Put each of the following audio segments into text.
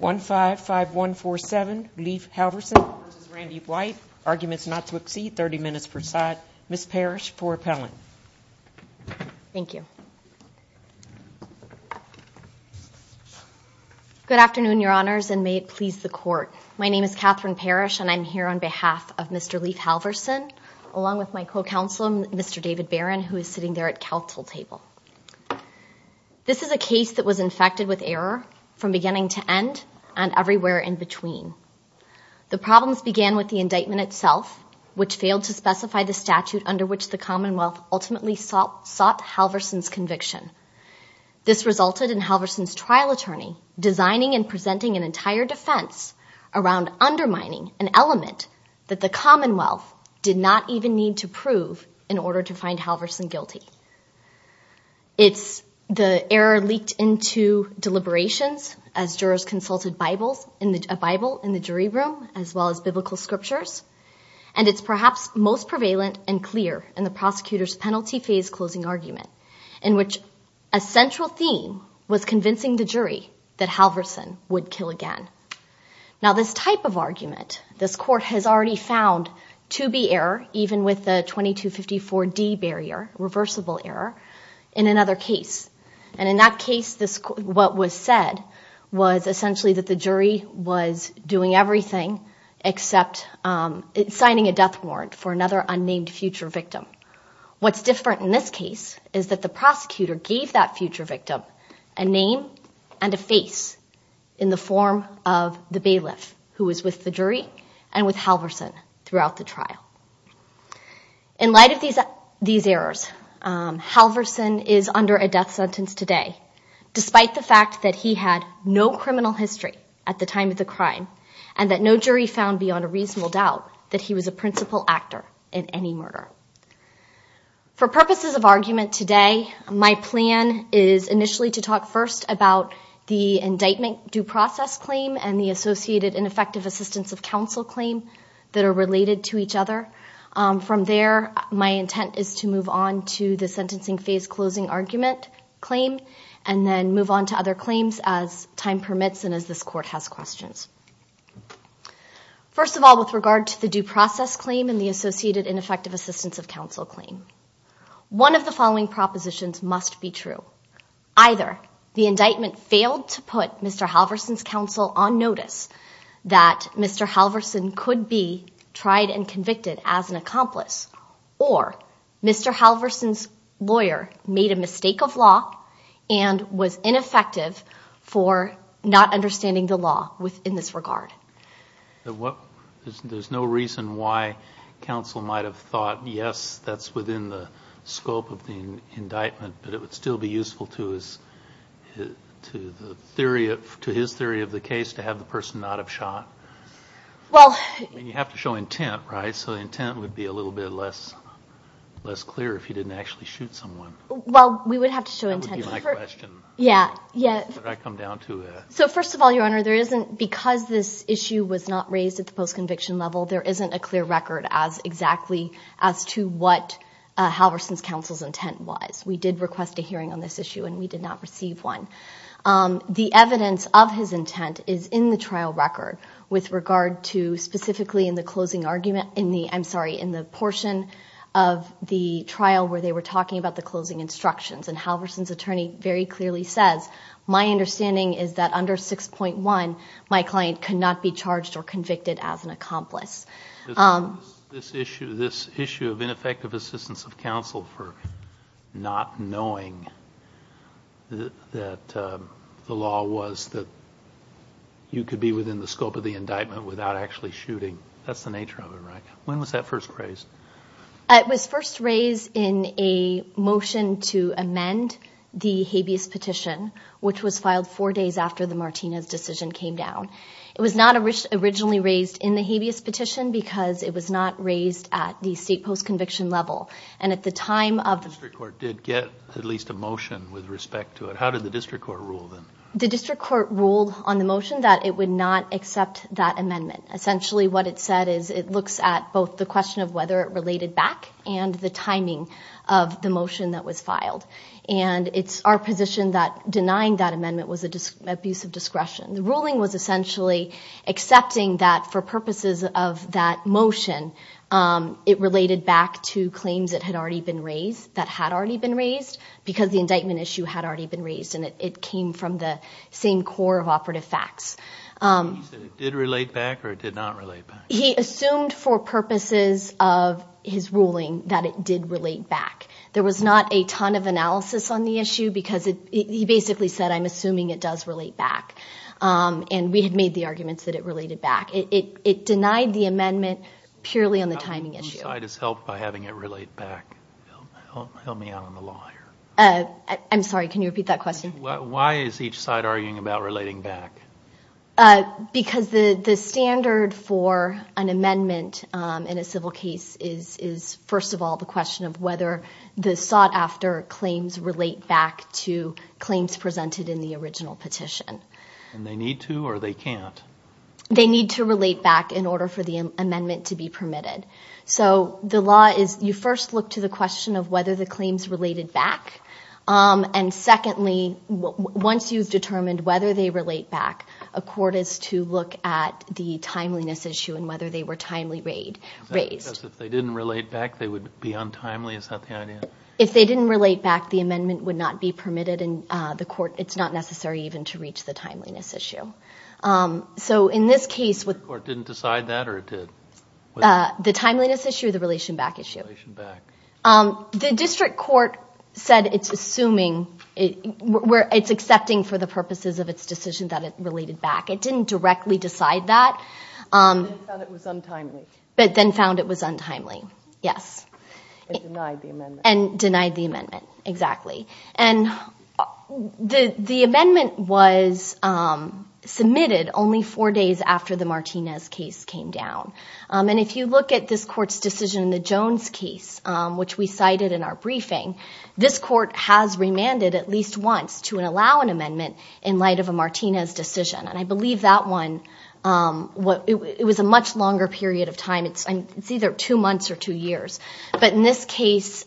155147, Leif Halversen v. Raandy White. Arguments not to exceed 30 minutes per side. Ms. Parrish for appellant. Thank you. Good afternoon, Your Honors, and may it please the Court. My name is Catherine Parrish, and I'm here on behalf of Mr. Leif Halversen, along with my co-counselor, Mr. David Barron, who is sitting there at counsel table. This is a case that was infected with error from beginning to end and everywhere in between. The problems began with the indictment itself, which failed to specify the statute under which the Commonwealth ultimately sought Halversen's conviction. This resulted in Halversen's trial attorney designing and presenting an entire defense around undermining an element that the Commonwealth did not even need to prove in order to find Halversen guilty. The error leaked into deliberations as jurors consulted a Bible in the jury room as well as biblical scriptures, and it's perhaps most prevalent and clear in the prosecutor's penalty phase closing argument, in which a central theme was convincing the jury that Halversen would kill again. Now this type of argument, this court has already found to be error, even with the 2254D barrier, reversible error, in another case. And in that case, what was said was essentially that the jury was doing everything except signing a death warrant for another unnamed future victim. What's different in this case is that the prosecutor gave that future victim a name and a face in the form of the bailiff who was with the jury and with Halversen throughout the trial. In light of these errors, Halversen is under a death sentence today, despite the fact that he had no criminal history at the time of the crime and that no jury found beyond a reasonable doubt that he was a principal actor in any murder. For purposes of argument today, my plan is initially to talk first about the indictment due process claim and the associated ineffective assistance of counsel claim that are related to each other. From there, my intent is to move on to the sentencing phase closing argument claim and then move on to other claims as time permits and as this court has questions. First of all, with regard to the due process claim and the associated ineffective assistance of counsel claim, one of the following propositions must be true. Either the indictment failed to put Mr. Halversen's counsel on notice that Mr. Halversen could be tried and convicted as an accomplice or Mr. Halversen's lawyer made a mistake of law and was ineffective for not understanding the law in this regard. There's no reason why counsel might have thought, yes, that's within the scope of the indictment, but it would still be useful to his theory of the case to have the person not have shot. I mean, you have to show intent, right? So intent would be a little bit less clear if he didn't actually shoot someone. Well, we would have to show intent. That would be my question. Yeah. That's what I come down to. So first of all, Your Honor, because this issue was not raised at the post-conviction level, there isn't a clear record as exactly as to what Halversen's counsel's intent was. We did request a hearing on this issue, and we did not receive one. The evidence of his intent is in the trial record with regard to specifically in the closing argument, I'm sorry, in the portion of the trial where they were talking about the closing instructions, and Halversen's attorney very clearly says, my understanding is that under 6.1, my client could not be charged or convicted as an accomplice. This issue of ineffective assistance of counsel for not knowing that the law was that you could be within the scope of the indictment without actually shooting, that's the nature of it, right? When was that first raised? It was first raised in a motion to amend the habeas petition, which was filed four days after the Martinez decision came down. It was not originally raised in the habeas petition because it was not raised at the state post-conviction level. And at the time of the – The district court did get at least a motion with respect to it. How did the district court rule then? The district court ruled on the motion that it would not accept that amendment. Essentially what it said is it looks at both the question of whether it related back and the timing of the motion that was filed. And it's our position that denying that amendment was an abuse of discretion. The ruling was essentially accepting that for purposes of that motion, it related back to claims that had already been raised, that had already been raised, because the indictment issue had already been raised and it came from the same core of operative facts. Did it relate back or did it not relate back? He assumed for purposes of his ruling that it did relate back. There was not a ton of analysis on the issue because he basically said, I'm assuming it does relate back. And we had made the arguments that it related back. It denied the amendment purely on the timing issue. Whose side has helped by having it relate back? Help me out on the law here. I'm sorry, can you repeat that question? Why is each side arguing about relating back? Because the standard for an amendment in a civil case is, first of all, the question of whether the sought-after claims relate back to claims presented in the original petition. And they need to or they can't? They need to relate back in order for the amendment to be permitted. So the law is you first look to the question of whether the claims related back. And secondly, once you've determined whether they relate back, a court is to look at the timeliness issue and whether they were timely raised. Because if they didn't relate back, they would be untimely? Is that the idea? If they didn't relate back, the amendment would not be permitted in the court. It's not necessary even to reach the timeliness issue. So in this case the court didn't decide that or it did? The timeliness issue or the relation back issue? Relation back. The district court said it's assuming, it's accepting for the purposes of its decision that it related back. It didn't directly decide that. But then found it was untimely. But then found it was untimely, yes. And denied the amendment. And denied the amendment, exactly. And the amendment was submitted only four days after the Martinez case came down. And if you look at this court's decision in the Jones case, which we cited in our briefing, this court has remanded at least once to allow an amendment in light of a Martinez decision. And I believe that one, it was a much longer period of time. It's either two months or two years. But in this case,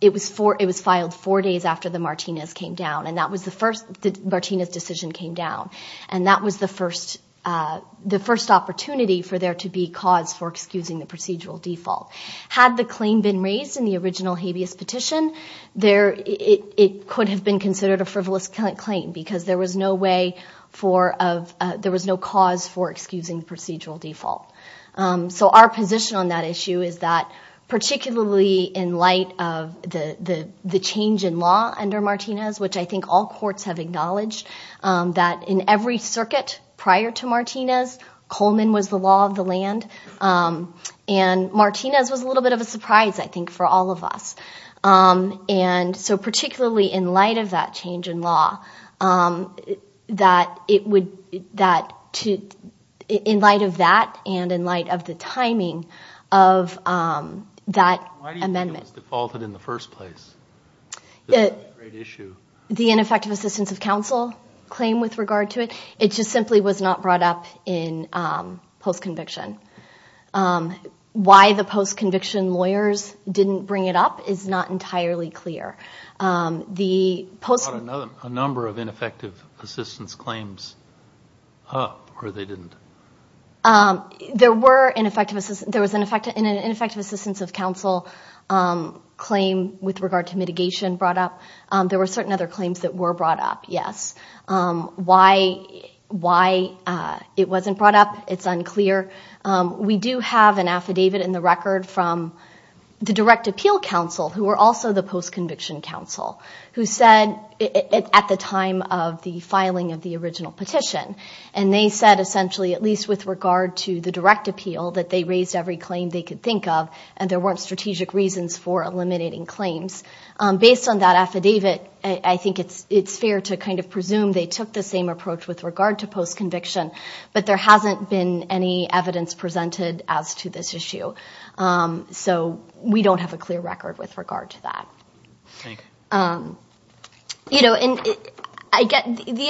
it was filed four days after the Martinez came down. And that was the first, the Martinez decision came down. And that was the first opportunity for there to be cause for excusing the procedural default. Had the claim been raised in the original habeas petition, it could have been considered a frivolous claim because there was no way for, there was no cause for excusing the procedural default. So our position on that issue is that particularly in light of the change in law under Martinez, which I think all courts have acknowledged, that in every circuit prior to Martinez, Coleman was the law of the land. And Martinez was a little bit of a surprise, I think, for all of us. And so particularly in light of that change in law, that it would, that to, in light of that and in light of the timing of that amendment. The claim was defaulted in the first place. That's not a great issue. The ineffective assistance of counsel claim with regard to it, it just simply was not brought up in post-conviction. Why the post-conviction lawyers didn't bring it up is not entirely clear. The post- They brought a number of ineffective assistance claims up, or they didn't? There were ineffective assistance. There was an ineffective assistance of counsel claim with regard to mitigation brought up. There were certain other claims that were brought up, yes. Why it wasn't brought up, it's unclear. We do have an affidavit in the record from the direct appeal counsel, who were also the post-conviction counsel, who said at the time of the filing of the original petition, and they said essentially, at least with regard to the direct appeal, that they raised every claim they could think of and there weren't strategic reasons for eliminating claims. Based on that affidavit, I think it's fair to kind of presume they took the same approach with regard to post-conviction, but there hasn't been any evidence presented as to this issue. So we don't have a clear record with regard to that. Okay. The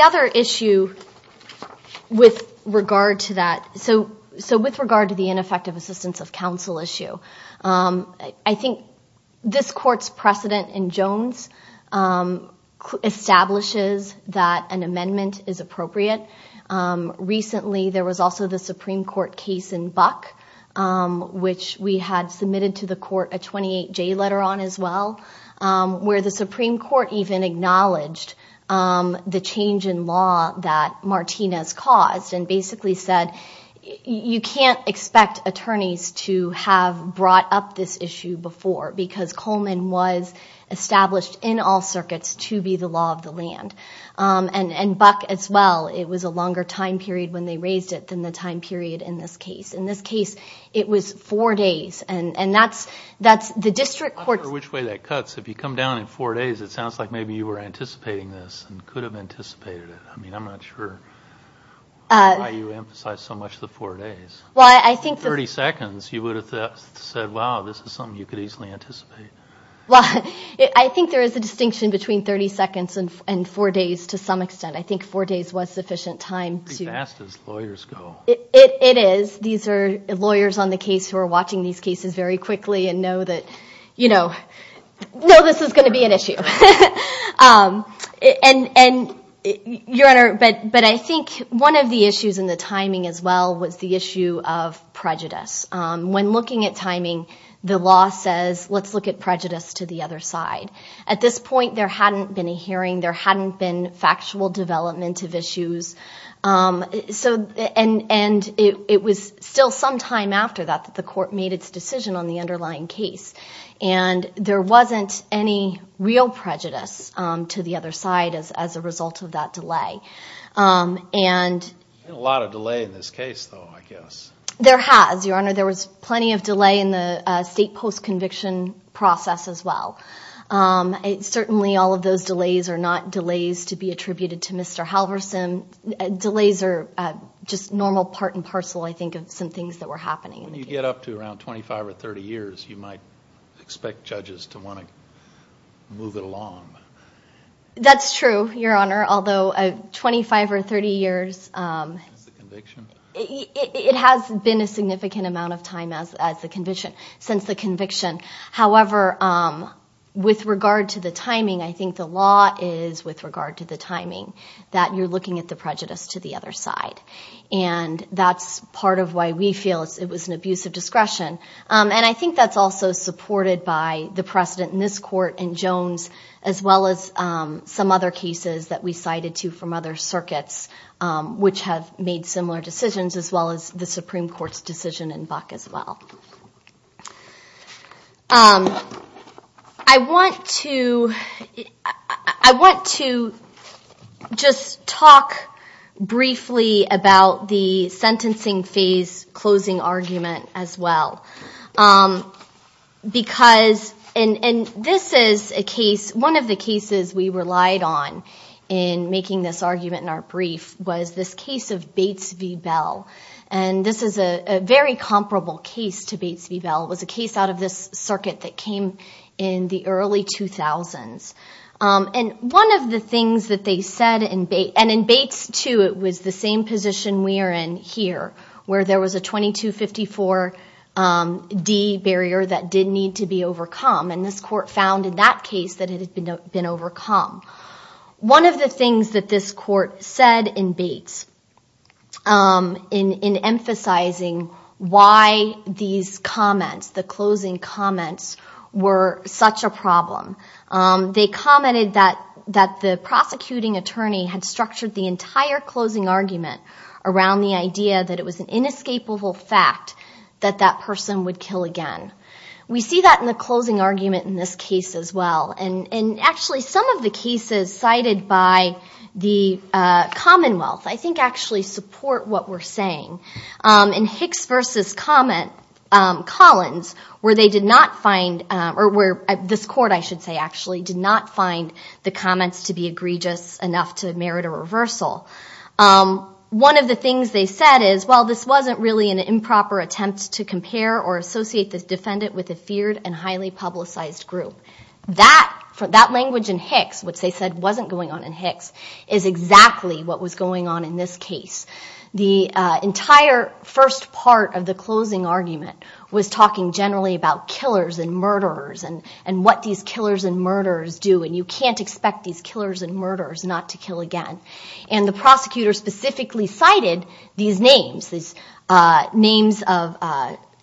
other issue with regard to that, so with regard to the ineffective assistance of counsel issue, I think this court's precedent in Jones establishes that an amendment is appropriate. Recently there was also the Supreme Court case in Buck, which we had submitted to the court a 28-J letter on as well, where the Supreme Court even acknowledged the change in law that Martinez caused and basically said you can't expect attorneys to have brought up this issue before because Coleman was established in all circuits to be the law of the land. And Buck as well, it was a longer time period when they raised it than the time period in this case. In this case, it was four days. I'm not sure which way that cuts. If you come down in four days, it sounds like maybe you were anticipating this and could have anticipated it. I mean, I'm not sure why you emphasized so much the four days. In 30 seconds, you would have said, wow, this is something you could easily anticipate. Well, I think there is a distinction between 30 seconds and four days to some extent. I think four days was sufficient time. It's as fast as lawyers go. It is. These are lawyers on the case who are watching these cases very quickly and know that this is going to be an issue. But I think one of the issues in the timing as well was the issue of prejudice. When looking at timing, the law says let's look at prejudice to the other side. At this point, there hadn't been a hearing. There hadn't been factual development of issues. And it was still some time after that that the court made its decision on the underlying case. And there wasn't any real prejudice to the other side as a result of that delay. There's been a lot of delay in this case, though, I guess. There has, Your Honor. There was plenty of delay in the state post-conviction process as well. Certainly, all of those delays are not delays to be attributed to Mr. Halverson. Delays are just normal part and parcel, I think, of some things that were happening in the case. When you get up to around 25 or 30 years, you might expect judges to want to move it along. That's true, Your Honor. Although 25 or 30 years, it has been a significant amount of time since the conviction. However, with regard to the timing, I think the law is, with regard to the timing, that you're looking at the prejudice to the other side. And that's part of why we feel it was an abuse of discretion. And I think that's also supported by the precedent in this court and Jones, as well as some other cases that we cited to from other circuits which have made similar decisions, as well as the Supreme Court's decision in Buck as well. I want to just talk briefly about the sentencing phase closing argument, as well. Because, and this is a case, one of the cases we relied on in making this argument in our brief was this case of Bates v. Bell. And this is a very comparable case to Bates v. Bell. It was a case out of this circuit that came in the early 2000s. And one of the things that they said in Bates, and in Bates, too, it was the same position we are in here, where there was a 2254D barrier that did need to be overcome. And this court found in that case that it had been overcome. One of the things that this court said in Bates in emphasizing why these comments, the closing comments, were such a problem, they commented that the prosecuting attorney had structured the entire closing argument around the idea that it was an inescapable fact that that person would kill again. We see that in the closing argument in this case, as well. And actually, some of the cases cited by the Commonwealth, I think, actually support what we're saying. In Hicks v. Collins, where they did not find, or where this court, I should say, actually did not find the comments to be egregious enough to merit a reversal. One of the things they said is, well, this wasn't really an improper attempt to compare or associate this defendant with a feared and highly publicized group. That language in Hicks, which they said wasn't going on in Hicks, is exactly what was going on in this case. The entire first part of the closing argument was talking generally about killers and murderers and what these killers and murderers do, and you can't expect these killers and murderers not to kill again. And the prosecutor specifically cited these names, these names of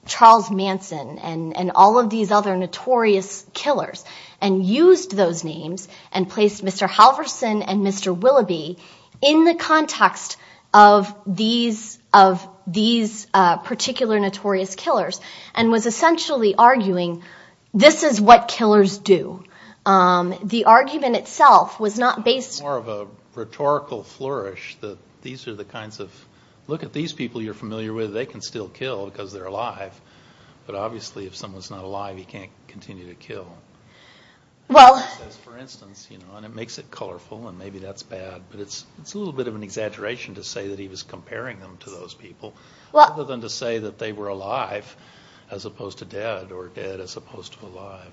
Charles Manson and all of these other notorious killers, and used those names and placed Mr. Halverson and Mr. Willoughby in the context of these particular notorious killers, and was essentially arguing, this is what killers do. The argument itself was not based... on a rhetorical flourish, that these are the kinds of... look at these people you're familiar with, they can still kill because they're alive, but obviously if someone's not alive, he can't continue to kill. That's for instance, and it makes it colorful, and maybe that's bad, but it's a little bit of an exaggeration to say that he was comparing them to those people, other than to say that they were alive, as opposed to dead, or dead as opposed to alive.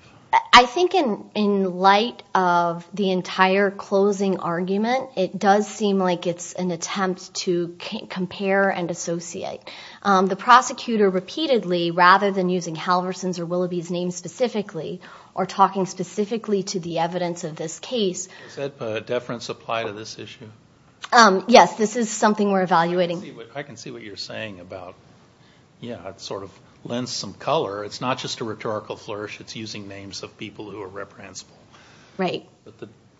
I think in light of the entire closing argument, it does seem like it's an attempt to compare and associate. The prosecutor repeatedly, rather than using Halverson's or Willoughby's names specifically, or talking specifically to the evidence of this case... Does that deference apply to this issue? Yes, this is something we're evaluating. I can see what you're saying about, yeah, it sort of lends some color. It's not just a rhetorical flourish, it's using names of people who are reprehensible. Right.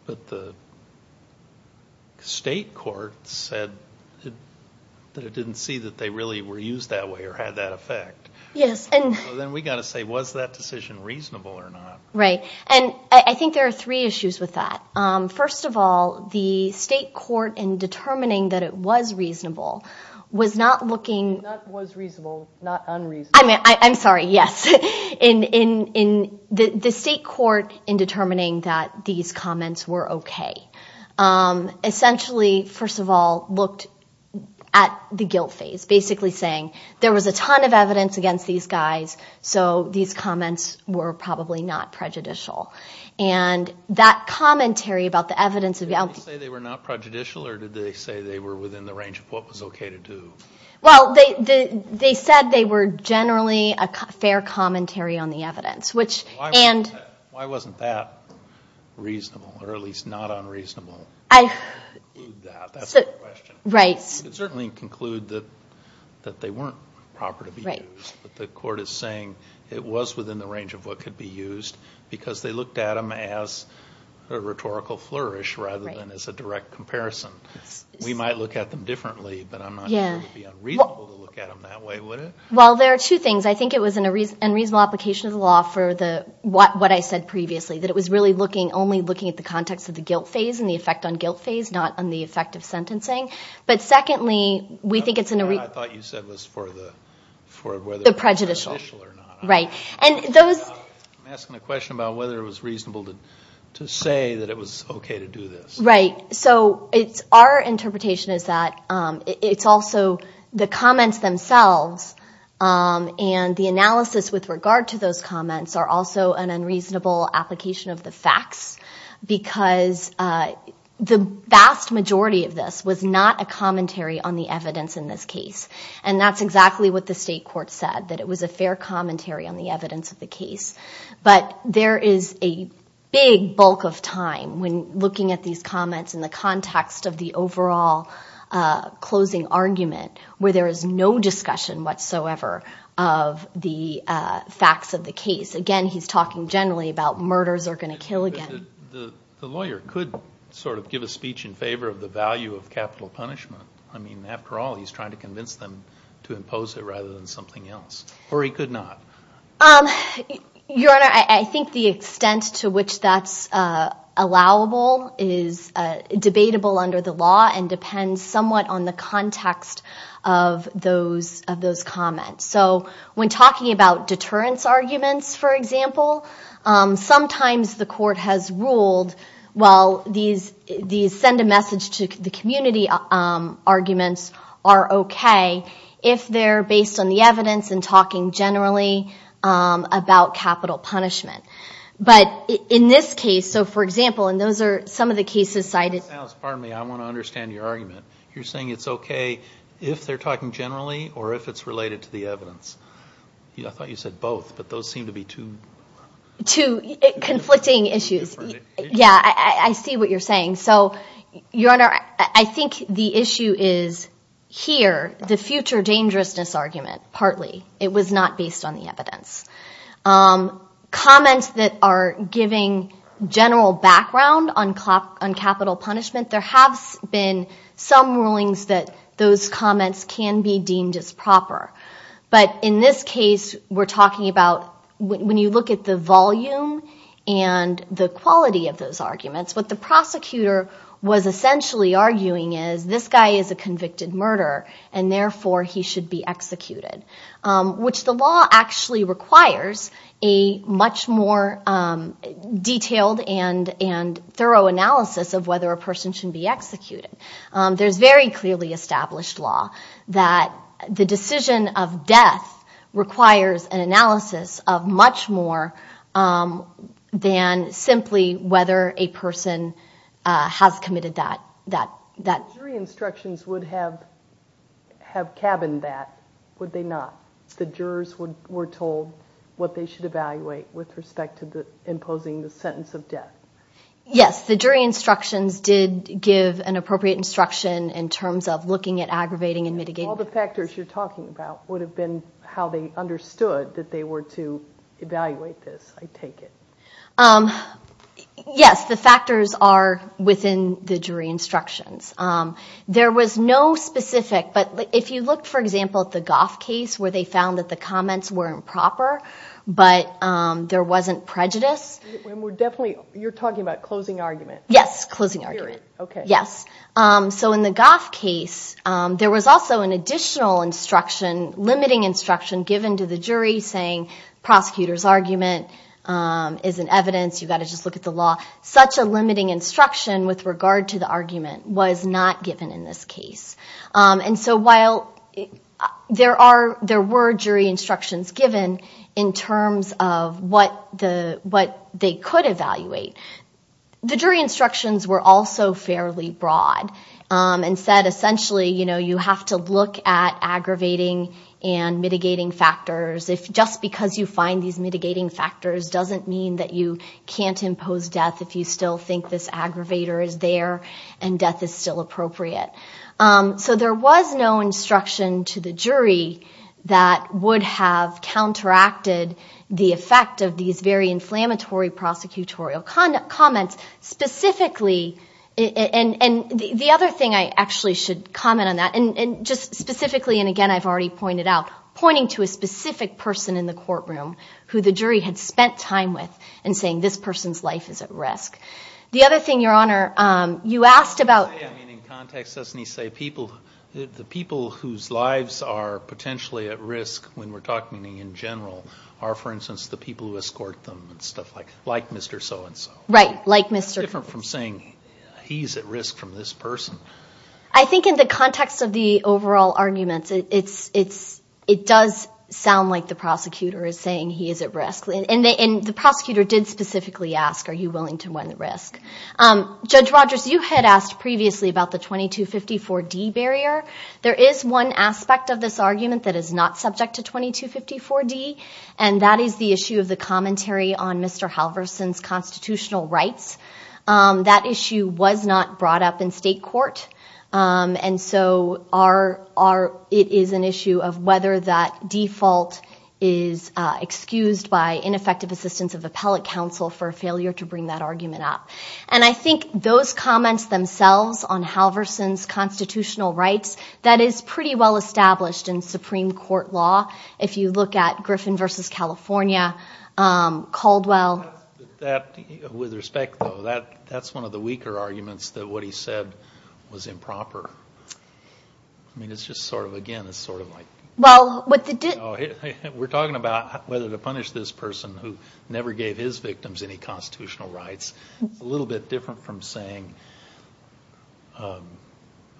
But the state court said that it didn't see that they really were used that way, or had that effect. Yes, and... So then we've got to say, was that decision reasonable or not? Right, and I think there are three issues with that. First of all, the state court, in determining that it was reasonable, was not looking... Not was reasonable, not unreasonable. I'm sorry, yes. The state court, in determining that these comments were okay, essentially, first of all, looked at the guilt phase, basically saying there was a ton of evidence against these guys, so these comments were probably not prejudicial. And that commentary about the evidence of... Did they say they were not prejudicial, or did they say they were within the range of what was okay to do? Well, they said they were generally a fair commentary on the evidence, which... Why wasn't that reasonable, or at least not unreasonable? I... That's the question. Right. You could certainly conclude that they weren't proper to be used. Right. But the court is saying it was within the range of what could be used, because they looked at them as a rhetorical flourish rather than as a direct comparison. We might look at them differently, but I'm not sure it would be unreasonable to look at them that way, would it? Well, there are two things. I think it was in reasonable application of the law for what I said previously, that it was really only looking at the context of the guilt phase and the effect on guilt phase, not on the effect of sentencing. But secondly, we think it's in a... I thought you said it was for whether it was prejudicial or not. Right. I'm asking a question about whether it was reasonable to say that it was okay to do this. Right. So our interpretation is that it's also the comments themselves and the analysis with regard to those comments are also an unreasonable application of the facts, because the vast majority of this was not a commentary on the evidence in this case. And that's exactly what the state court said, that it was a fair commentary on the evidence of the case. But there is a big bulk of time when looking at these comments in the context of the overall closing argument where there is no discussion whatsoever of the facts of the case. Again, he's talking generally about murders are going to kill again. The lawyer could sort of give a speech in favor of the value of capital punishment. I mean, after all, he's trying to convince them to impose it rather than something else. Or he could not. Your Honor, I think the extent to which that's allowable is debatable under the law and depends somewhat on the context of those comments. So when talking about deterrence arguments, for example, sometimes the court has ruled, well, these send-a-message-to-the-community arguments are okay if they're based on the evidence and talking generally about capital punishment. But in this case, so for example, and those are some of the cases cited... Alice, pardon me, I want to understand your argument. You're saying it's okay if they're talking generally or if it's related to the evidence. I thought you said both, but those seem to be two... Yeah, I see what you're saying. So, Your Honor, I think the issue is here, the future dangerousness argument, partly. It was not based on the evidence. Comments that are giving general background on capital punishment, there have been some rulings that those comments can be deemed as proper. But in this case, we're talking about when you look at the volume and the quality of those arguments, what the prosecutor was essentially arguing is this guy is a convicted murderer and therefore he should be executed, which the law actually requires a much more detailed and thorough analysis of whether a person should be executed. There's very clearly established law that the decision of death requires an analysis of much more than simply whether a person has committed that. The jury instructions would have cabined that, would they not? The jurors were told what they should evaluate with respect to imposing the sentence of death. Yes, the jury instructions did give an appropriate instruction in terms of looking at aggravating and mitigating... All the factors you're talking about would have been how they understood that they were to evaluate this, I take it. Yes, the factors are within the jury instructions. There was no specific, but if you look, for example, at the Goff case where they found that the comments were improper, but there wasn't prejudice... You're talking about closing argument. Yes, closing argument. In the Goff case, there was also an additional instruction, limiting instruction given to the jury saying, prosecutor's argument is an evidence, you've got to just look at the law. Such a limiting instruction with regard to the argument was not given in this case. While there were jury instructions given in terms of what they could evaluate, the jury instructions were also fairly broad and said, essentially, you have to look at aggravating and mitigating factors. If just because you find these mitigating factors doesn't mean that you can't impose death if you still think this aggravator is there and death is still appropriate. So there was no instruction to the jury that would have counteracted the effect of these very inflammatory prosecutorial comments. Specifically, and the other thing I actually should comment on that, and just specifically, and again, I've already pointed out, pointing to a specific person in the courtroom who the jury had spent time with and saying this person's life is at risk. The other thing, Your Honor, you asked about... I mean, in context, doesn't he say the people whose lives are potentially at risk when we're talking in general are, for instance, the people who escort them and stuff like Mr. So-and-so? Right, like Mr. Different from saying he's at risk from this person. I think in the context of the overall arguments, it does sound like the prosecutor is saying he is at risk. And the prosecutor did specifically ask, are you willing to run at risk? Judge Rogers, you had asked previously about the 2254D barrier. There is one aspect of this argument that is not subject to 2254D, and that is the issue of the commentary on Mr. Halverson's constitutional rights. That issue was not brought up in state court, and so it is an issue of whether that default is excused by ineffective assistance of appellate counsel for failure to bring that argument up. And I think those comments themselves on Halverson's constitutional rights, that is pretty well established in Supreme Court law. If you look at Griffin v. California, Caldwell. With respect, though, that's one of the weaker arguments, that what he said was improper. I mean, it's just sort of, again, it's sort of like... We're talking about whether to punish this person who never gave his victims any constitutional rights. It's a little bit different from saying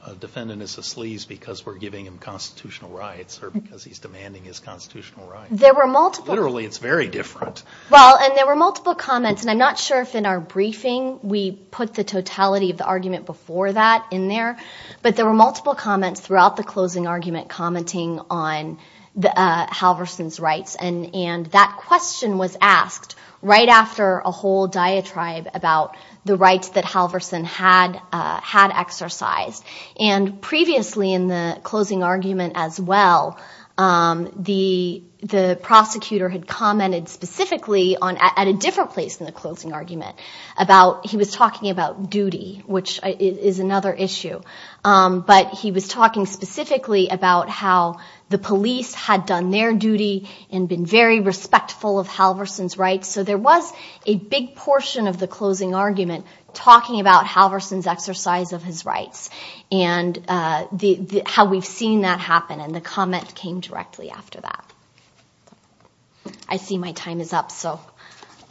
a defendant is a sleaze because we're giving him constitutional rights or because he's demanding his constitutional rights. Literally, it's very different. Well, and there were multiple comments, and I'm not sure if in our briefing we put the totality of the argument before that in there, but there were multiple comments throughout the closing argument commenting on Halverson's rights. And that question was asked right after a whole diatribe about the rights that Halverson had exercised. And previously in the closing argument as well, the prosecutor had commented specifically at a different place in the closing argument. He was talking about duty, which is another issue. But he was talking specifically about how the police had done their duty and been very respectful of Halverson's rights. So there was a big portion of the closing argument talking about Halverson's exercise of his rights and how we've seen that happen. And the comment came directly after that. I see my time is up, so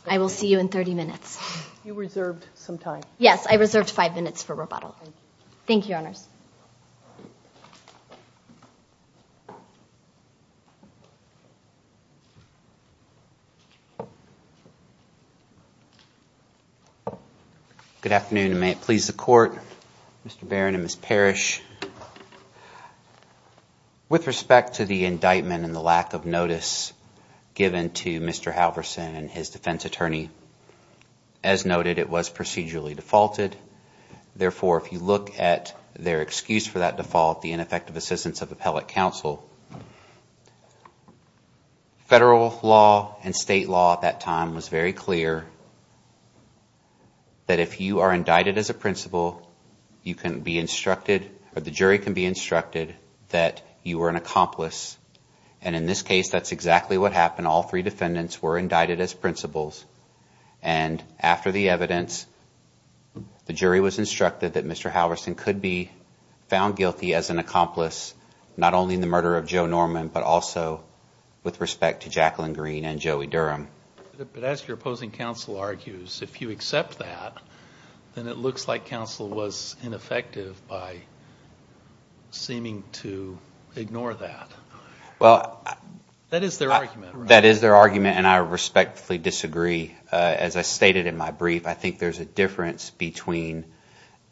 I will see you in 30 minutes. You reserved some time. Thank you, Your Honors. Thank you. Good afternoon, and may it please the Court, Mr. Barron and Ms. Parrish. With respect to the indictment and the lack of notice given to Mr. Halverson and his defense attorney, as noted, it was procedurally defaulted. Therefore, if you look at their excuse for that default, the ineffective assistance of appellate counsel, federal law and state law at that time was very clear that if you are indicted as a principal, you can be instructed or the jury can be instructed that you were an accomplice. And in this case, that's exactly what happened. All three defendants were indicted as principals. And after the evidence, the jury was instructed that Mr. Halverson could be found guilty as an accomplice, not only in the murder of Joe Norman, but also with respect to Jacqueline Green and Joey Durham. But as your opposing counsel argues, if you accept that, then it looks like counsel was ineffective by seeming to ignore that. That is their argument, right? That is their argument, and I respectfully disagree. As I stated in my brief, I think there's a difference between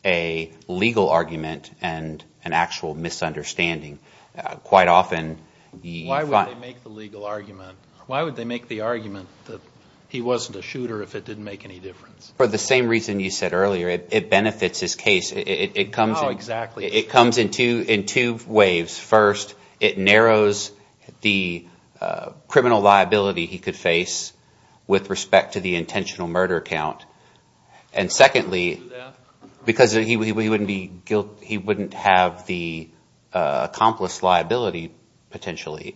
a legal argument and an actual misunderstanding. Quite often you find— Why would they make the legal argument? Why would they make the argument that he wasn't a shooter if it didn't make any difference? For the same reason you said earlier, it benefits his case. How exactly? It comes in two waves. First, it narrows the criminal liability he could face with respect to the intentional murder count. And secondly, because he wouldn't have the accomplice liability potentially.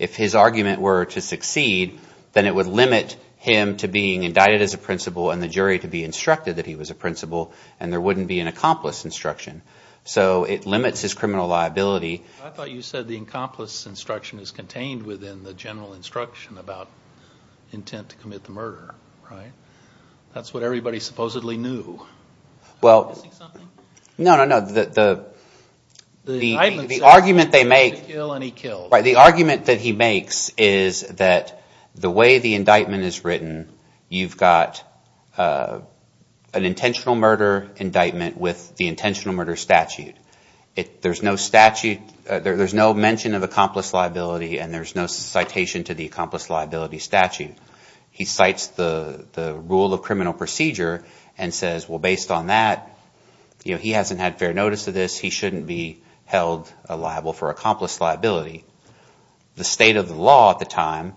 If his argument were to succeed, then it would limit him to being indicted as a principal and the jury to be instructed that he was a principal, and there wouldn't be an accomplice instruction. So it limits his criminal liability. I thought you said the accomplice instruction is contained within the general instruction about intent to commit the murder, right? That's what everybody supposedly knew. Well— Am I missing something? No, no, no. The argument they make— He killed and he killed. Right. The argument that he makes is that the way the indictment is written, you've got an intentional murder indictment with the intentional murder statute. There's no statute—there's no mention of accomplice liability and there's no citation to the accomplice liability statute. He cites the rule of criminal procedure and says, well, based on that, he hasn't had fair notice of this, he shouldn't be held liable for accomplice liability. The state of the law at the time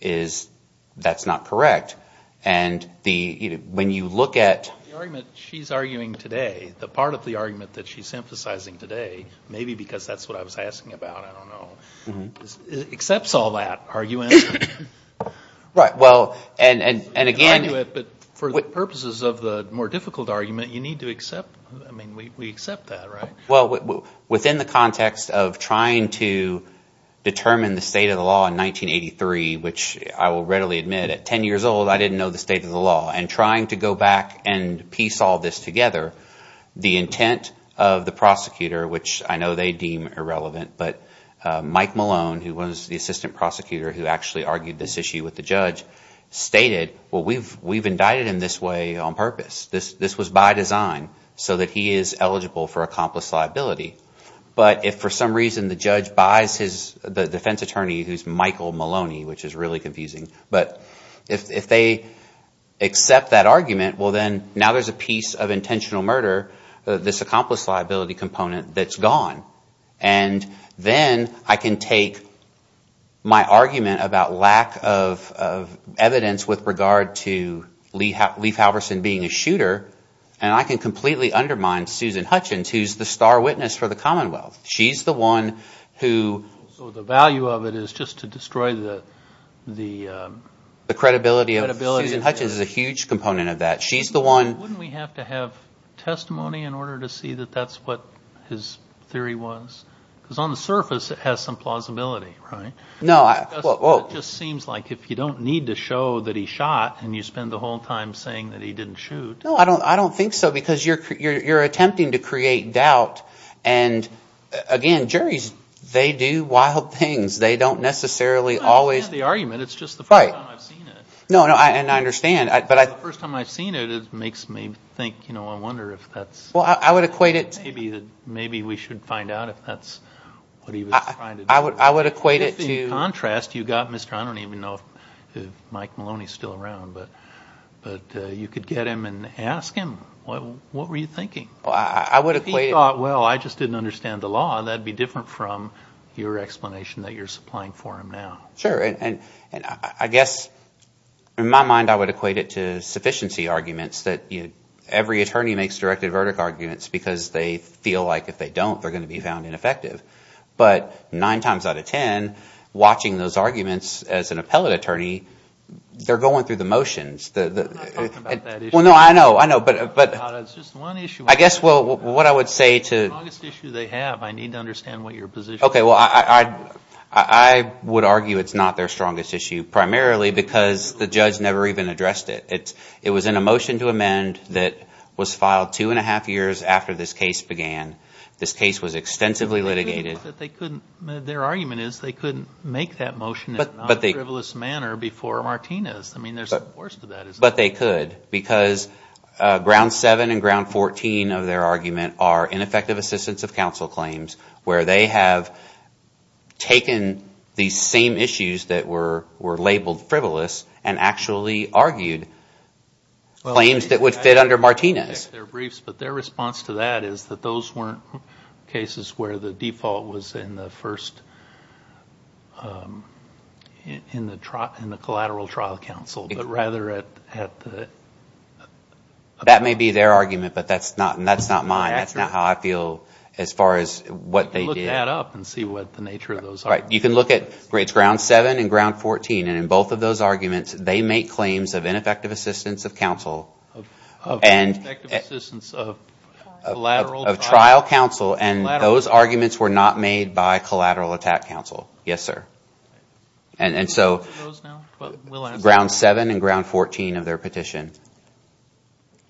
is that's not correct. And when you look at— The argument she's arguing today, the part of the argument that she's emphasizing today, maybe because that's what I was asking about, I don't know, accepts all that argument. Well, and again— For the purposes of the more difficult argument, you need to accept—I mean we accept that, right? Well, within the context of trying to determine the state of the law in 1983, which I will readily admit at 10 years old, I didn't know the state of the law, and trying to go back and piece all this together, the intent of the prosecutor, which I know they deem irrelevant, but Mike Malone, who was the assistant prosecutor who actually argued this issue with the judge, stated, well, we've indicted him this way on purpose. This was by design so that he is eligible for accomplice liability. But if for some reason the judge buys the defense attorney, who's Michael Maloney, which is really confusing, but if they accept that argument, well then now there's a piece of intentional murder, this accomplice liability component, that's gone. And then I can take my argument about lack of evidence with regard to Lee Halverson being a shooter and I can completely undermine Susan Hutchins, who's the star witness for the Commonwealth. She's the one who— So the value of it is just to destroy the— The credibility of Susan Hutchins is a huge component of that. She's the one— Wouldn't we have to have testimony in order to see that that's what his theory was? Because on the surface it has some plausibility, right? No, well— It just seems like if you don't need to show that he shot and you spend the whole time saying that he didn't shoot— No, I don't think so because you're attempting to create doubt, and again, juries, they do wild things. They don't necessarily always— No, and I understand, but I— The first time I've seen it, it makes me think, I wonder if that's— Well, I would equate it to— Maybe we should find out if that's what he was trying to do. I would equate it to— If in contrast you got Mr.—I don't even know if Mike Maloney is still around, but you could get him and ask him, what were you thinking? Well, I would equate it— If he thought, well, I just didn't understand the law, that would be different from your explanation that you're supplying for him now. Sure, and I guess in my mind I would equate it to sufficiency arguments that every attorney makes directed verdict arguments because they feel like if they don't, they're going to be found ineffective. But nine times out of ten, watching those arguments as an appellate attorney, they're going through the motions. I'm not talking about that issue. Well, no, I know, I know, but— No, it's just one issue. I guess what I would say to— It's the longest issue they have. I need to understand what your position is. Okay, well, I would argue it's not their strongest issue primarily because the judge never even addressed it. It was in a motion to amend that was filed two and a half years after this case began. This case was extensively litigated. Their argument is they couldn't make that motion in a non-frivolous manner before Martinez. I mean, there's a force to that, isn't there? But they could because ground seven and ground 14 of their argument are ineffective assistance of counsel claims where they have taken these same issues that were labeled frivolous and actually argued claims that would fit under Martinez. But their response to that is that those weren't cases where the default was in the first—in the collateral trial counsel, but rather at the— That may be their argument, but that's not mine. That's not how I feel as far as what they did. You can look that up and see what the nature of those are. You can look at—it's ground seven and ground 14, and in both of those arguments, they make claims of ineffective assistance of counsel. Effective assistance of collateral— Of trial counsel, and those arguments were not made by collateral attack counsel. Yes, sir. And so— Those now? We'll answer that. Ground seven and ground 14 of their petition.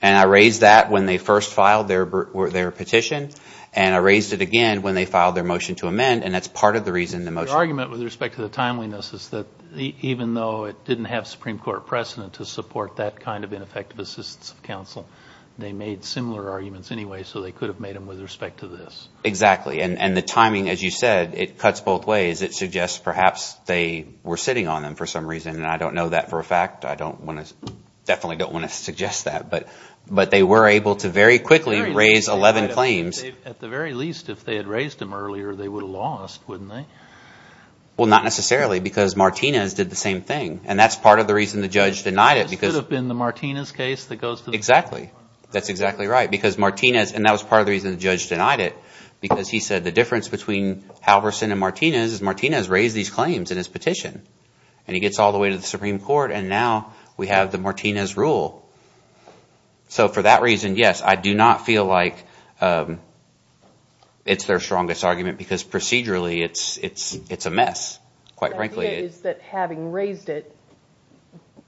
And I raised that when they first filed their petition, and I raised it again when they filed their motion to amend, and that's part of the reason the motion— Their argument with respect to the timeliness is that even though it didn't have Supreme Court precedent to support that kind of ineffective assistance of counsel, they made similar arguments anyway, so they could have made them with respect to this. Exactly, and the timing, as you said, it cuts both ways. It suggests perhaps they were sitting on them for some reason, and I don't know that for a fact. I don't want to—definitely don't want to suggest that, but they were able to very quickly raise 11 claims. At the very least, if they had raised them earlier, they would have lost, wouldn't they? Well, not necessarily, because Martinez did the same thing, and that's part of the reason the judge denied it because— This could have been the Martinez case that goes to the Supreme Court. Exactly. That's exactly right, because Martinez—and that was part of the reason the judge denied it, because he said the difference between Halverson and Martinez is Martinez raised these claims in his petition, and he gets all the way to the Supreme Court, and now we have the Martinez rule. So for that reason, yes, I do not feel like it's their strongest argument because procedurally it's a mess, quite frankly. The idea is that having raised it,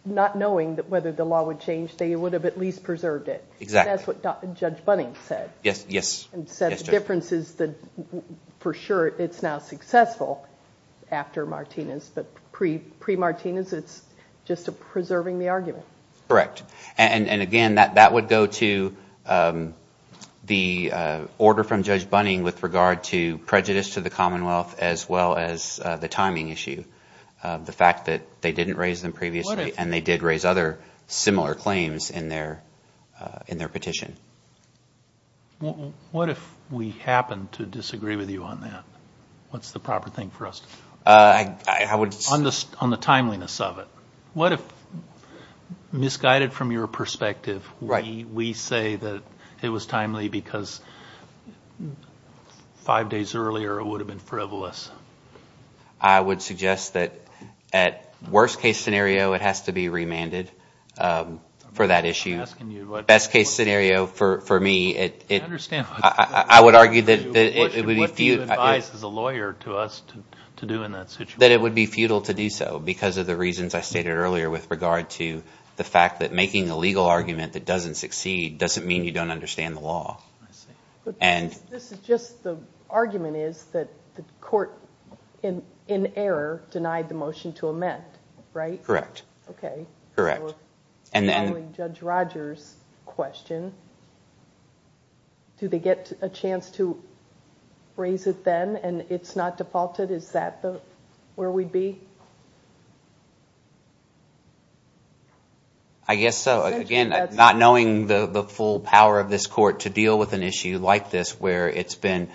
not knowing whether the law would change, they would have at least preserved it. Exactly. That's what Judge Bunning said. Yes, yes. And said the difference is that for sure it's now successful after Martinez, but pre-Martinez, it's just preserving the argument. Correct. And again, that would go to the order from Judge Bunning with regard to prejudice to the Commonwealth as well as the timing issue, the fact that they didn't raise them previously and they did raise other similar claims in their petition. What if we happen to disagree with you on that? What's the proper thing for us? I would— On the timeliness of it. What if, misguided from your perspective, we say that it was timely because five days earlier it would have been frivolous? I would suggest that at worst case scenario it has to be remanded for that issue. I'm not asking you what— Best case scenario for me it— I understand— I would argue that it would be— What do you advise as a lawyer to us to do in that situation? That it would be futile to do so because of the reasons I stated earlier with regard to the fact that making a legal argument that doesn't succeed doesn't mean you don't understand the law. I see. And— This is just the argument is that the court in error denied the motion to amend, right? Correct. Okay. Correct. Judge Rogers' question, do they get a chance to raise it then and it's not defaulted? Is that where we'd be? I guess so. Again, not knowing the full power of this court to deal with an issue like this where it's been—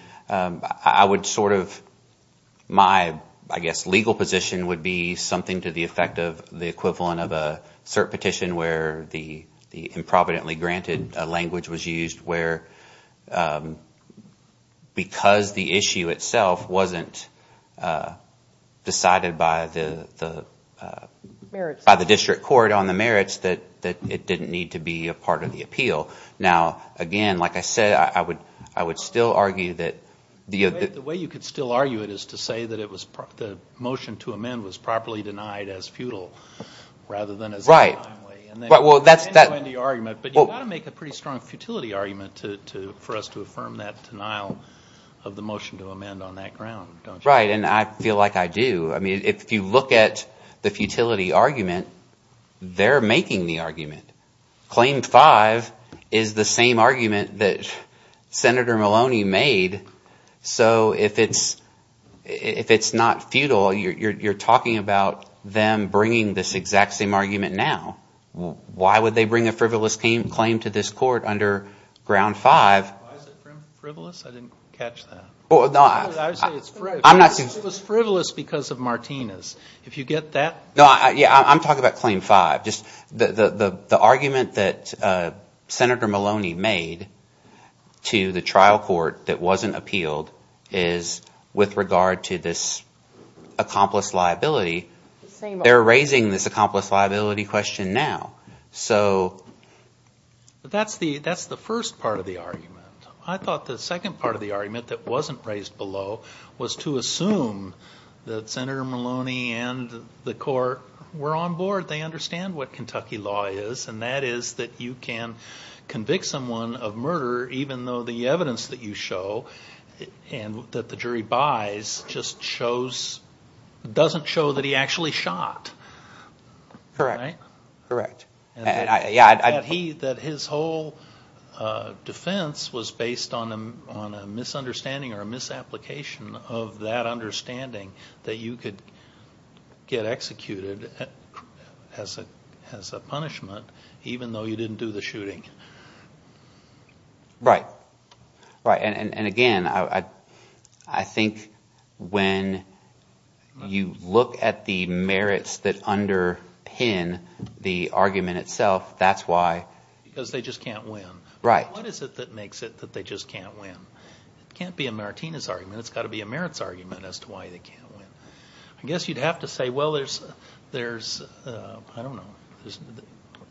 My, I guess, legal position would be something to the effect of the equivalent of a cert petition where the improvidently granted language was used where because the issue itself wasn't decided by the— Merits. By the district court on the merits that it didn't need to be a part of the appeal. Now, again, like I said, I would still argue that— The way you could still argue it is to say that the motion to amend was properly denied as futile rather than as— Right. Well, that's— But you've got to make a pretty strong futility argument for us to affirm that denial of the motion to amend on that ground, don't you? Right, and I feel like I do. I mean, if you look at the futility argument, they're making the argument. Claim five is the same argument that Senator Maloney made. So if it's not futile, you're talking about them bringing this exact same argument now. Why would they bring a frivolous claim to this court under ground five? Why is it frivolous? I didn't catch that. I would say it's frivolous. I'm not— It was frivolous because of Martinez. If you get that— No, yeah, I'm talking about claim five. Just the argument that Senator Maloney made to the trial court that wasn't appealed is with regard to this accomplice liability. They're raising this accomplice liability question now. So— That's the first part of the argument. I thought the second part of the argument that wasn't raised below was to assume that Senator Maloney and the court were on board. They understand what Kentucky law is, and that is that you can convict someone of murder even though the evidence that you show and that the jury buys just shows—doesn't show that he actually shot. Correct. Correct. That his whole defense was based on a misunderstanding or a misapplication of that understanding that you could get executed as a punishment even though you didn't do the shooting. Right. Right, and again, I think when you look at the merits that underpin the argument itself, that's why— Because they just can't win. Right. What is it that makes it that they just can't win? It can't be a Martinez argument. It's got to be a merits argument as to why they can't win. I guess you'd have to say, well, there's—I don't know.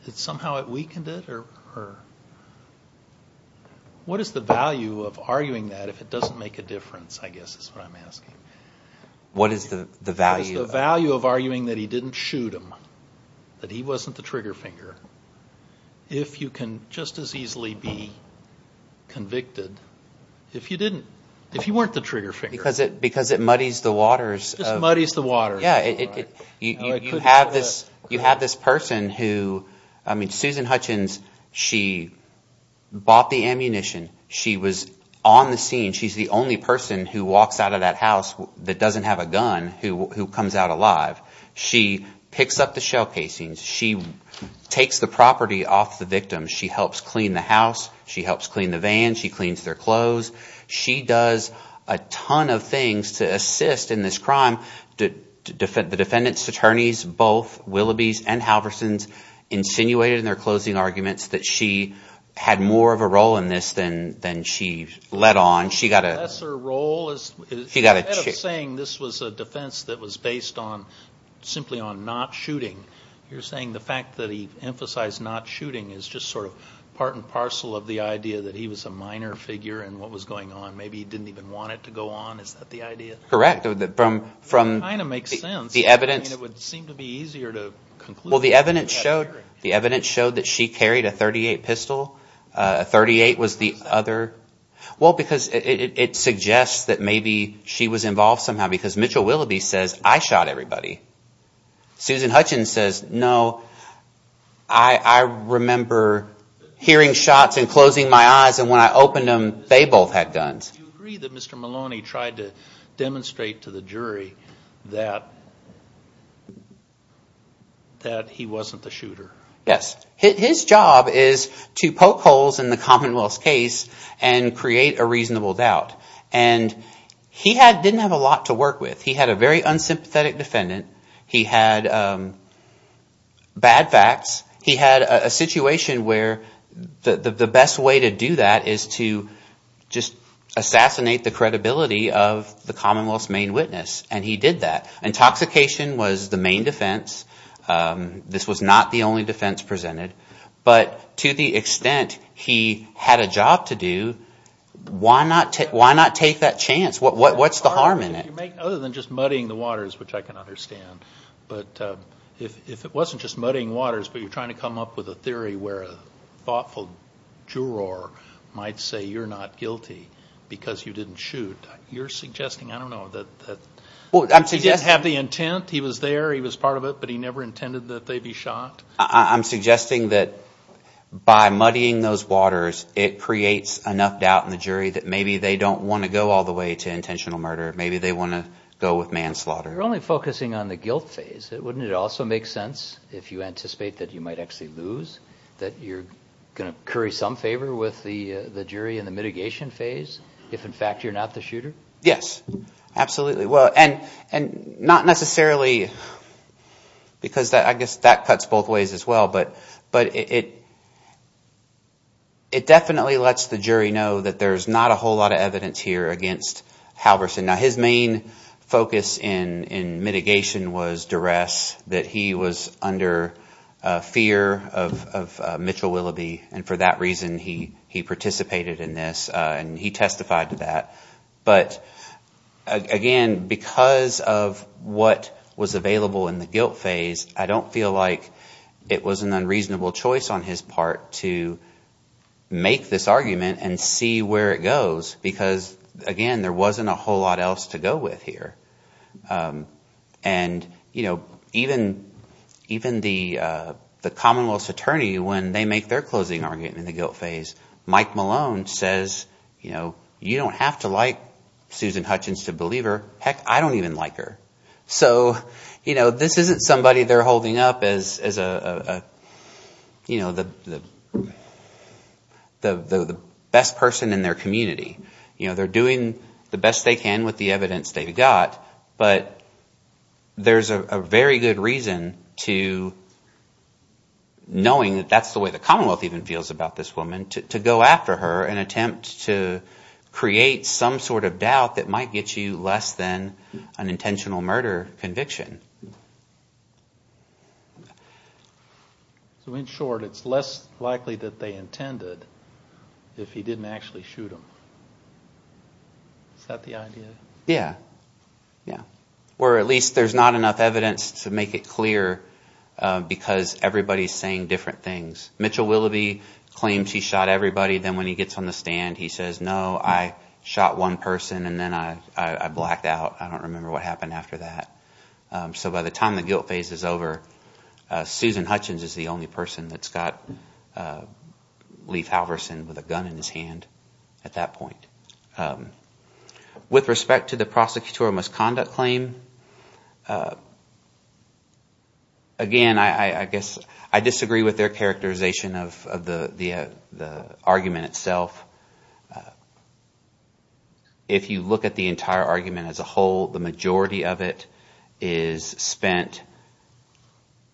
Somehow it weakened it or—what is the value of arguing that if it doesn't make a difference, I guess is what I'm asking. What is the value? What is the value of arguing that he didn't shoot him, that he wasn't the trigger finger, if you can just as easily be convicted if you didn't—if you weren't the trigger finger? Because it muddies the waters. It just muddies the waters. You have this person who—I mean Susan Hutchins, she bought the ammunition. She was on the scene. She's the only person who walks out of that house that doesn't have a gun who comes out alive. She picks up the shell casings. She takes the property off the victim. She helps clean the house. She helps clean the van. She cleans their clothes. She does a ton of things to assist in this crime. The defendant's attorneys, both Willoughby's and Halverson's, insinuated in their closing arguments that she had more of a role in this than she let on. She got a— Maybe he didn't even want it to go on. Is that the idea? Correct. It kind of makes sense. The evidence— It would seem to be easier to conclude— Well, the evidence showed that she carried a .38 pistol. A .38 was the other— Well, because it suggests that maybe she was involved somehow because Mitchell Willoughby says, I shot everybody. Susan Hutchins says, no, I remember hearing shots and closing my eyes, and when I opened them, they both had guns. Do you agree that Mr. Maloney tried to demonstrate to the jury that he wasn't the shooter? Yes. His job is to poke holes in the Commonwealth's case and create a reasonable doubt. And he didn't have a lot to work with. He had a very unsympathetic defendant. He had bad facts. He had a situation where the best way to do that is to just assassinate the credibility of the Commonwealth's main witness, and he did that. Intoxication was the main defense. This was not the only defense presented. But to the extent he had a job to do, why not take that chance? What's the harm in it? Other than just muddying the waters, which I can understand, but if it wasn't just muddying waters, but you're trying to come up with a theory where a thoughtful juror might say you're not guilty because you didn't shoot, you're suggesting, I don't know, that he didn't have the intent, he was there, he was part of it, but he never intended that they be shot? I'm suggesting that by muddying those waters, it creates enough doubt in the jury that maybe they don't want to go all the way to intentional murder. Maybe they want to go with manslaughter. You're only focusing on the guilt phase. Wouldn't it also make sense, if you anticipate that you might actually lose, that you're going to curry some favor with the jury in the mitigation phase if, in fact, you're not the shooter? Yes, absolutely. Well, and not necessarily because I guess that cuts both ways as well, but it definitely lets the jury know that there's not a whole lot of evidence here against Halverson. Now, his main focus in mitigation was duress, that he was under fear of Mitchell Willoughby, and for that reason he participated in this and he testified to that. But again, because of what was available in the guilt phase, I don't feel like it was an unreasonable choice on his part to make this argument and see where it goes because, again, there wasn't a whole lot else to go with here. And even the Commonwealth's attorney, when they make their closing argument in the guilt phase, Mike Malone says you don't have to like Susan Hutchins to believe her. Heck, I don't even like her. So this isn't somebody they're holding up as the best person in their community. They're doing the best they can with the evidence they've got, but there's a very good reason to, knowing that that's the way the Commonwealth even feels about this woman, to go after her and attempt to create some sort of doubt that might get you less than an intentional murder conviction. So in short, it's less likely that they intended if he didn't actually shoot them. Is that the idea? Yeah. Or at least there's not enough evidence to make it clear because everybody's saying different things. Mitchell Willoughby claims he shot everybody, then when he gets on the stand he says, no, I shot one person and then I blacked out, I don't remember what happened after that. So by the time the guilt phase is over, Susan Hutchins is the only person that's got Lief Halverson with a gun in his hand at that point. With respect to the prosecutorial misconduct claim, again, I guess I disagree with their characterization of the argument itself. If you look at the entire argument as a whole, the majority of it is spent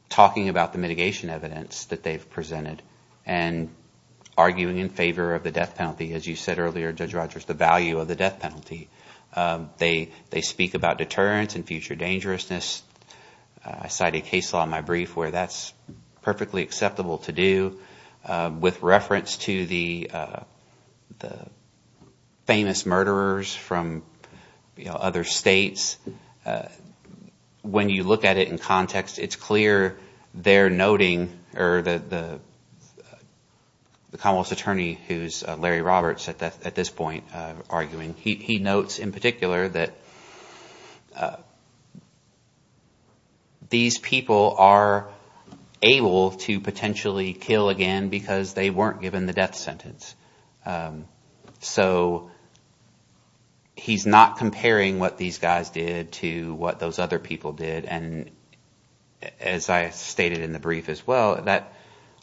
talking about the mitigation evidence that they've presented and arguing in favor of the death penalty. As you said earlier, Judge Rogers, the value of the death penalty. They speak about deterrence and future dangerousness. I cited a case law in my brief where that's perfectly acceptable to do with reference to the famous murderers from other states. When you look at it in context, it's clear they're noting – or the Commonwealth's attorney who is Larry Roberts at this point arguing. He notes in particular that these people are able to potentially kill again because they weren't given the death sentence. So he's not comparing what these guys did to what those other people did. And as I stated in the brief as well, that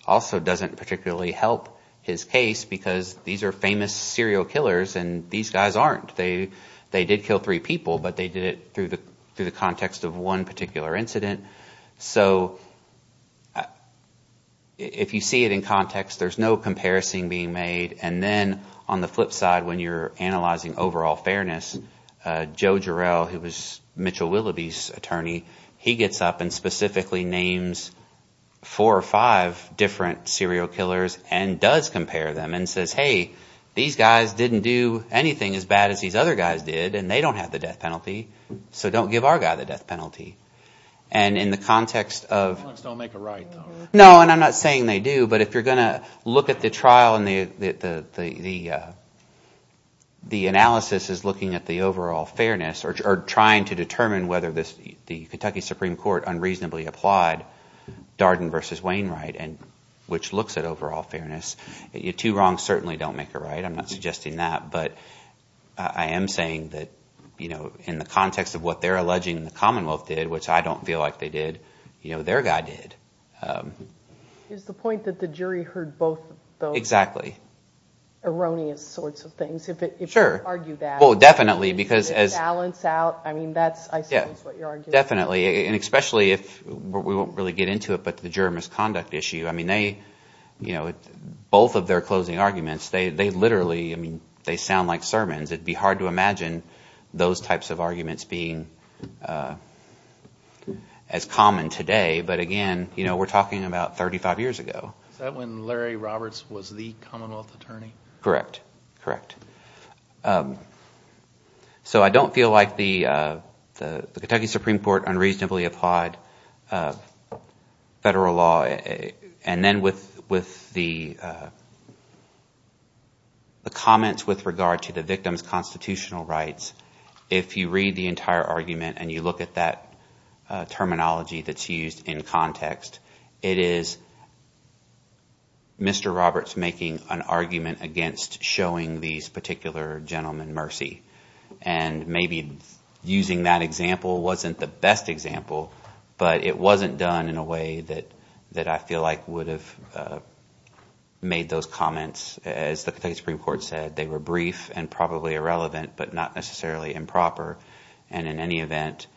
also doesn't particularly help his case because these are famous serial killers and these guys aren't. They did kill three people, but they did it through the context of one particular incident. So if you see it in context, there's no comparison being made. And then on the flip side, when you're analyzing overall fairness, Joe Jarrell, who was Mitchell Willoughby's attorney, he gets up and specifically names four or five different serial killers and does compare them and says, hey, these guys didn't do anything as bad as these other guys did and they don't have the death penalty. So don't give our guy the death penalty. And in the context of – They don't make a right though. No, and I'm not saying they do. But if you're going to look at the trial and the analysis is looking at the overall fairness or trying to determine whether the Kentucky Supreme Court unreasonably applied Darden v. Wainwright, which looks at overall fairness, the two wrongs certainly don't make a right. I'm not suggesting that, but I am saying that in the context of what they're alleging the Commonwealth did, which I don't feel like they did, their guy did. Is the point that the jury heard both of those erroneous sorts of things? Sure. If you could argue that. Well, definitely because – The balance out. I mean that's I suppose what you're arguing. Definitely, and especially if – we won't really get into it, but the juror misconduct issue. I mean they – both of their closing arguments, they literally – I mean they sound like sermons. It would be hard to imagine those types of arguments being as common today. But again, we're talking about 35 years ago. Is that when Larry Roberts was the Commonwealth attorney? Correct, correct. So I don't feel like the Kentucky Supreme Court unreasonably applied federal law. And then with the comments with regard to the victim's constitutional rights, if you read the entire argument and you look at that terminology that's used in context, it is Mr. Roberts making an argument against showing these particular gentlemen mercy. And maybe using that example wasn't the best example, but it wasn't done in a way that I feel like would have made those comments. As the Kentucky Supreme Court said, they were brief and probably irrelevant but not necessarily improper. And in any event,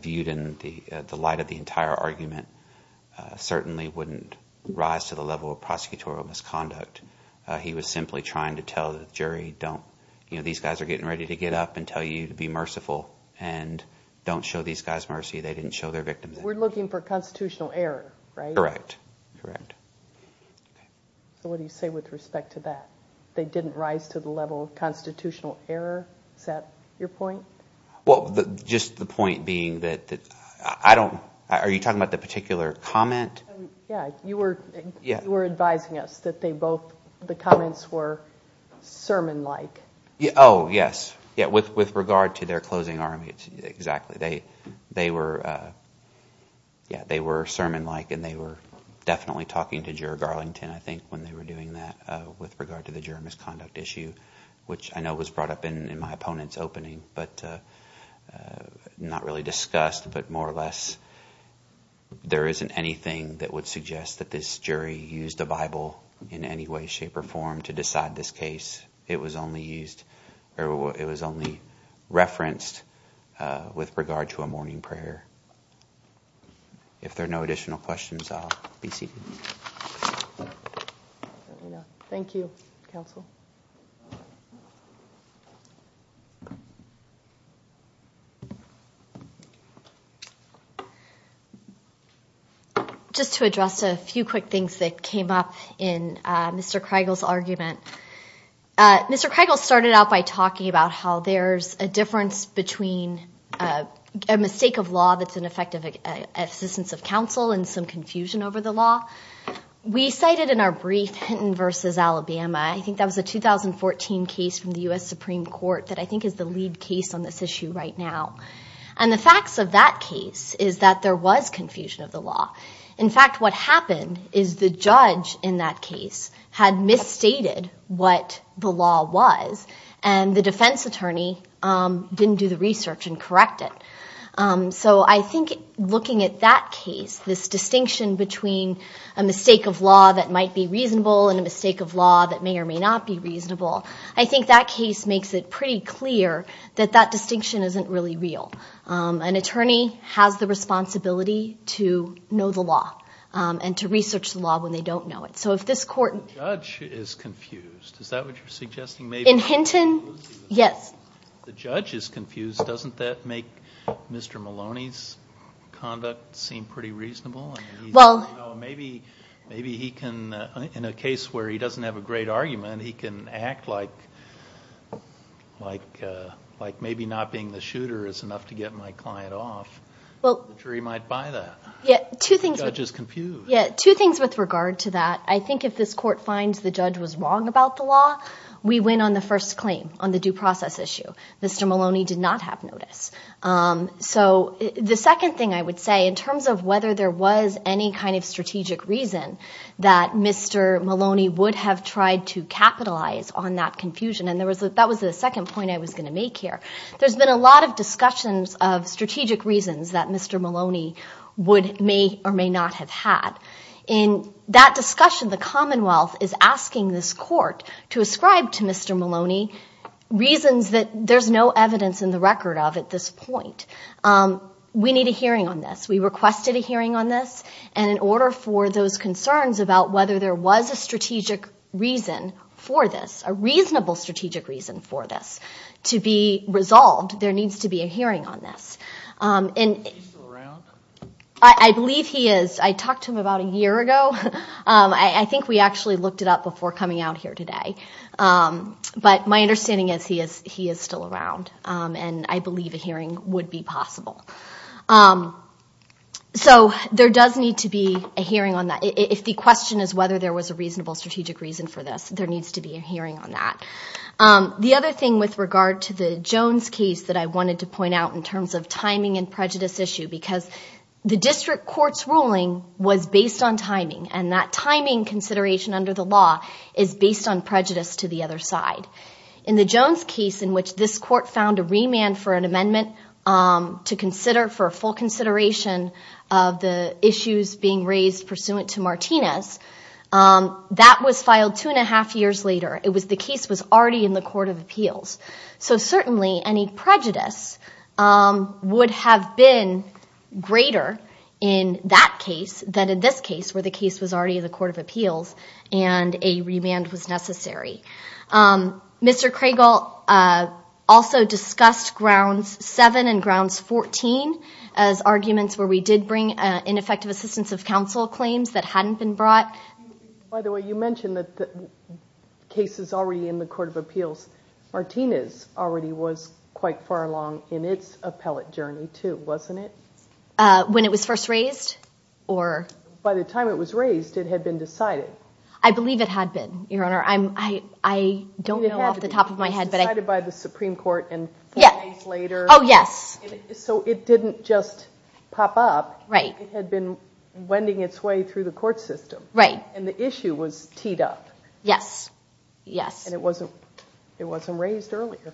viewed in the light of the entire argument, certainly wouldn't rise to the level of prosecutorial misconduct. He was simply trying to tell the jury, these guys are getting ready to get up and tell you to be merciful and don't show these guys mercy. They didn't show their victims mercy. We're looking for constitutional error, right? Correct, correct. So what do you say with respect to that? They didn't rise to the level of constitutional error? Is that your point? Well, just the point being that I don't – are you talking about the particular comment? Yeah, you were advising us that they both – the comments were sermon-like. Oh, yes. Yeah, with regard to their closing argument, exactly. They were – yeah, they were sermon-like, and they were definitely talking to Juror Garlington I think when they were doing that with regard to the juror misconduct issue, which I know was brought up in my opponent's opening but not really discussed but more or less there isn't anything that would suggest that this jury used a Bible in any way, shape, or form to decide this case. It was only used – it was only referenced with regard to a morning prayer. If there are no additional questions, I'll be seated. Thank you, counsel. Just to address a few quick things that came up in Mr. Kriegel's argument, Mr. Kriegel started out by talking about how there's a difference between a mistake of law that's an effective assistance of counsel and some confusion over the law. We cited in our brief Hinton v. Alabama – I think that was a 2014 case from the U.S. Supreme Court that I think is the lead case on this issue right now. And the facts of that case is that there was confusion of the law. In fact, what happened is the judge in that case had misstated what the law was, and the defense attorney didn't do the research and correct it. So I think looking at that case, this distinction between a mistake of law that might be reasonable and a mistake of law that may or may not be reasonable, I think that case makes it pretty clear that that distinction isn't really real. An attorney has the responsibility to know the law and to research the law when they don't know it. So if this court – The judge is confused. Is that what you're suggesting? In Hinton, yes. The judge is confused. Doesn't that make Mr. Maloney's conduct seem pretty reasonable? Maybe he can – in a case where he doesn't have a great argument, he can act like maybe not being the shooter is enough to get my client off. The jury might buy that. The judge is confused. Yeah, two things with regard to that. I think if this court finds the judge was wrong about the law, we win on the first claim, on the due process issue. Mr. Maloney did not have notice. So the second thing I would say in terms of whether there was any kind of strategic reason that Mr. Maloney would have tried to capitalize on that confusion, and that was the second point I was going to make here, there's been a lot of discussions of strategic reasons that Mr. Maloney may or may not have had. In that discussion, the Commonwealth is asking this court to ascribe to Mr. Maloney reasons that there's no evidence in the record of at this point. We need a hearing on this. We requested a hearing on this, and in order for those concerns about whether there was a strategic reason for this, a reasonable strategic reason for this to be resolved, there needs to be a hearing on this. Is he still around? I believe he is. I talked to him about a year ago. I think we actually looked it up before coming out here today. But my understanding is he is still around, and I believe a hearing would be possible. So there does need to be a hearing on that. If the question is whether there was a reasonable strategic reason for this, there needs to be a hearing on that. The other thing with regard to the Jones case that I wanted to point out in terms of timing and prejudice issue, because the district court's ruling was based on timing, and that timing consideration under the law is based on prejudice to the other side. In the Jones case, in which this court found a remand for an amendment to consider for a full consideration of the issues being raised pursuant to Martinez, that was filed two and a half years later. The case was already in the Court of Appeals. So certainly any prejudice would have been greater in that case than in this case, where the case was already in the Court of Appeals and a remand was necessary. Mr. Cregall also discussed Grounds 7 and Grounds 14 as arguments where we did bring ineffective assistance of counsel claims that hadn't been brought. By the way, you mentioned that the case is already in the Court of Appeals. Martinez already was quite far along in its appellate journey, too, wasn't it? When it was first raised? By the time it was raised, it had been decided. I believe it had been, Your Honor. I don't know off the top of my head. It was decided by the Supreme Court and four days later. Oh, yes. So it didn't just pop up. It had been wending its way through the court system. And the issue was teed up. Yes. And it wasn't raised earlier.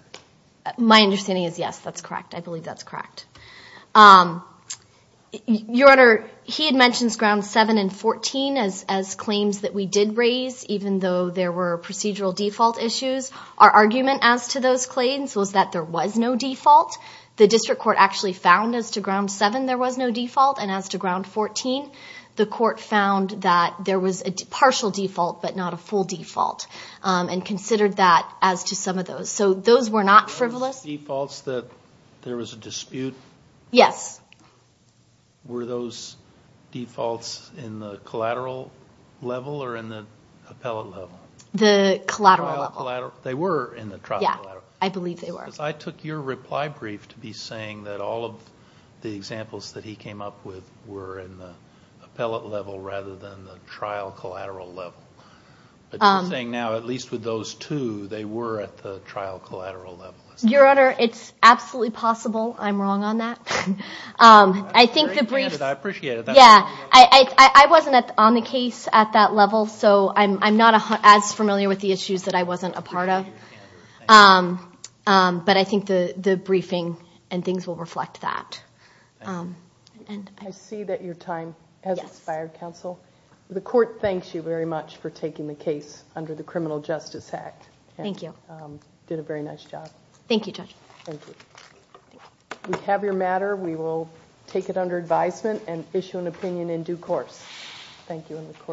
My understanding is yes, that's correct. I believe that's correct. Your Honor, he had mentioned Grounds 7 and 14 as claims that we did raise, even though there were procedural default issues. Our argument as to those claims was that there was no default. The district court actually found as to Grounds 7 there was no default. And as to Grounds 14, the court found that there was a partial default, but not a full default, and considered that as to some of those. So those were not frivolous. Were those defaults that there was a dispute? Yes. Were those defaults in the collateral level or in the appellate level? The collateral level. They were in the trial collateral. Yes, I believe they were. Because I took your reply brief to be saying that all of the examples that he came up with were in the appellate level rather than the trial collateral level. But you're saying now, at least with those two, they were at the trial collateral level. Your Honor, it's absolutely possible I'm wrong on that. I think the briefs. I appreciate it. I wasn't on the case at that level, so I'm not as familiar with the issues that I wasn't a part of. But I think the briefing and things will reflect that. Thank you. I see that your time has expired, counsel. The court thanks you very much for taking the case under the Criminal Justice Act. Thank you. You did a very nice job. Thank you, Judge. Thank you. We have your matter. We will take it under advisement and issue an opinion in due course. Thank you.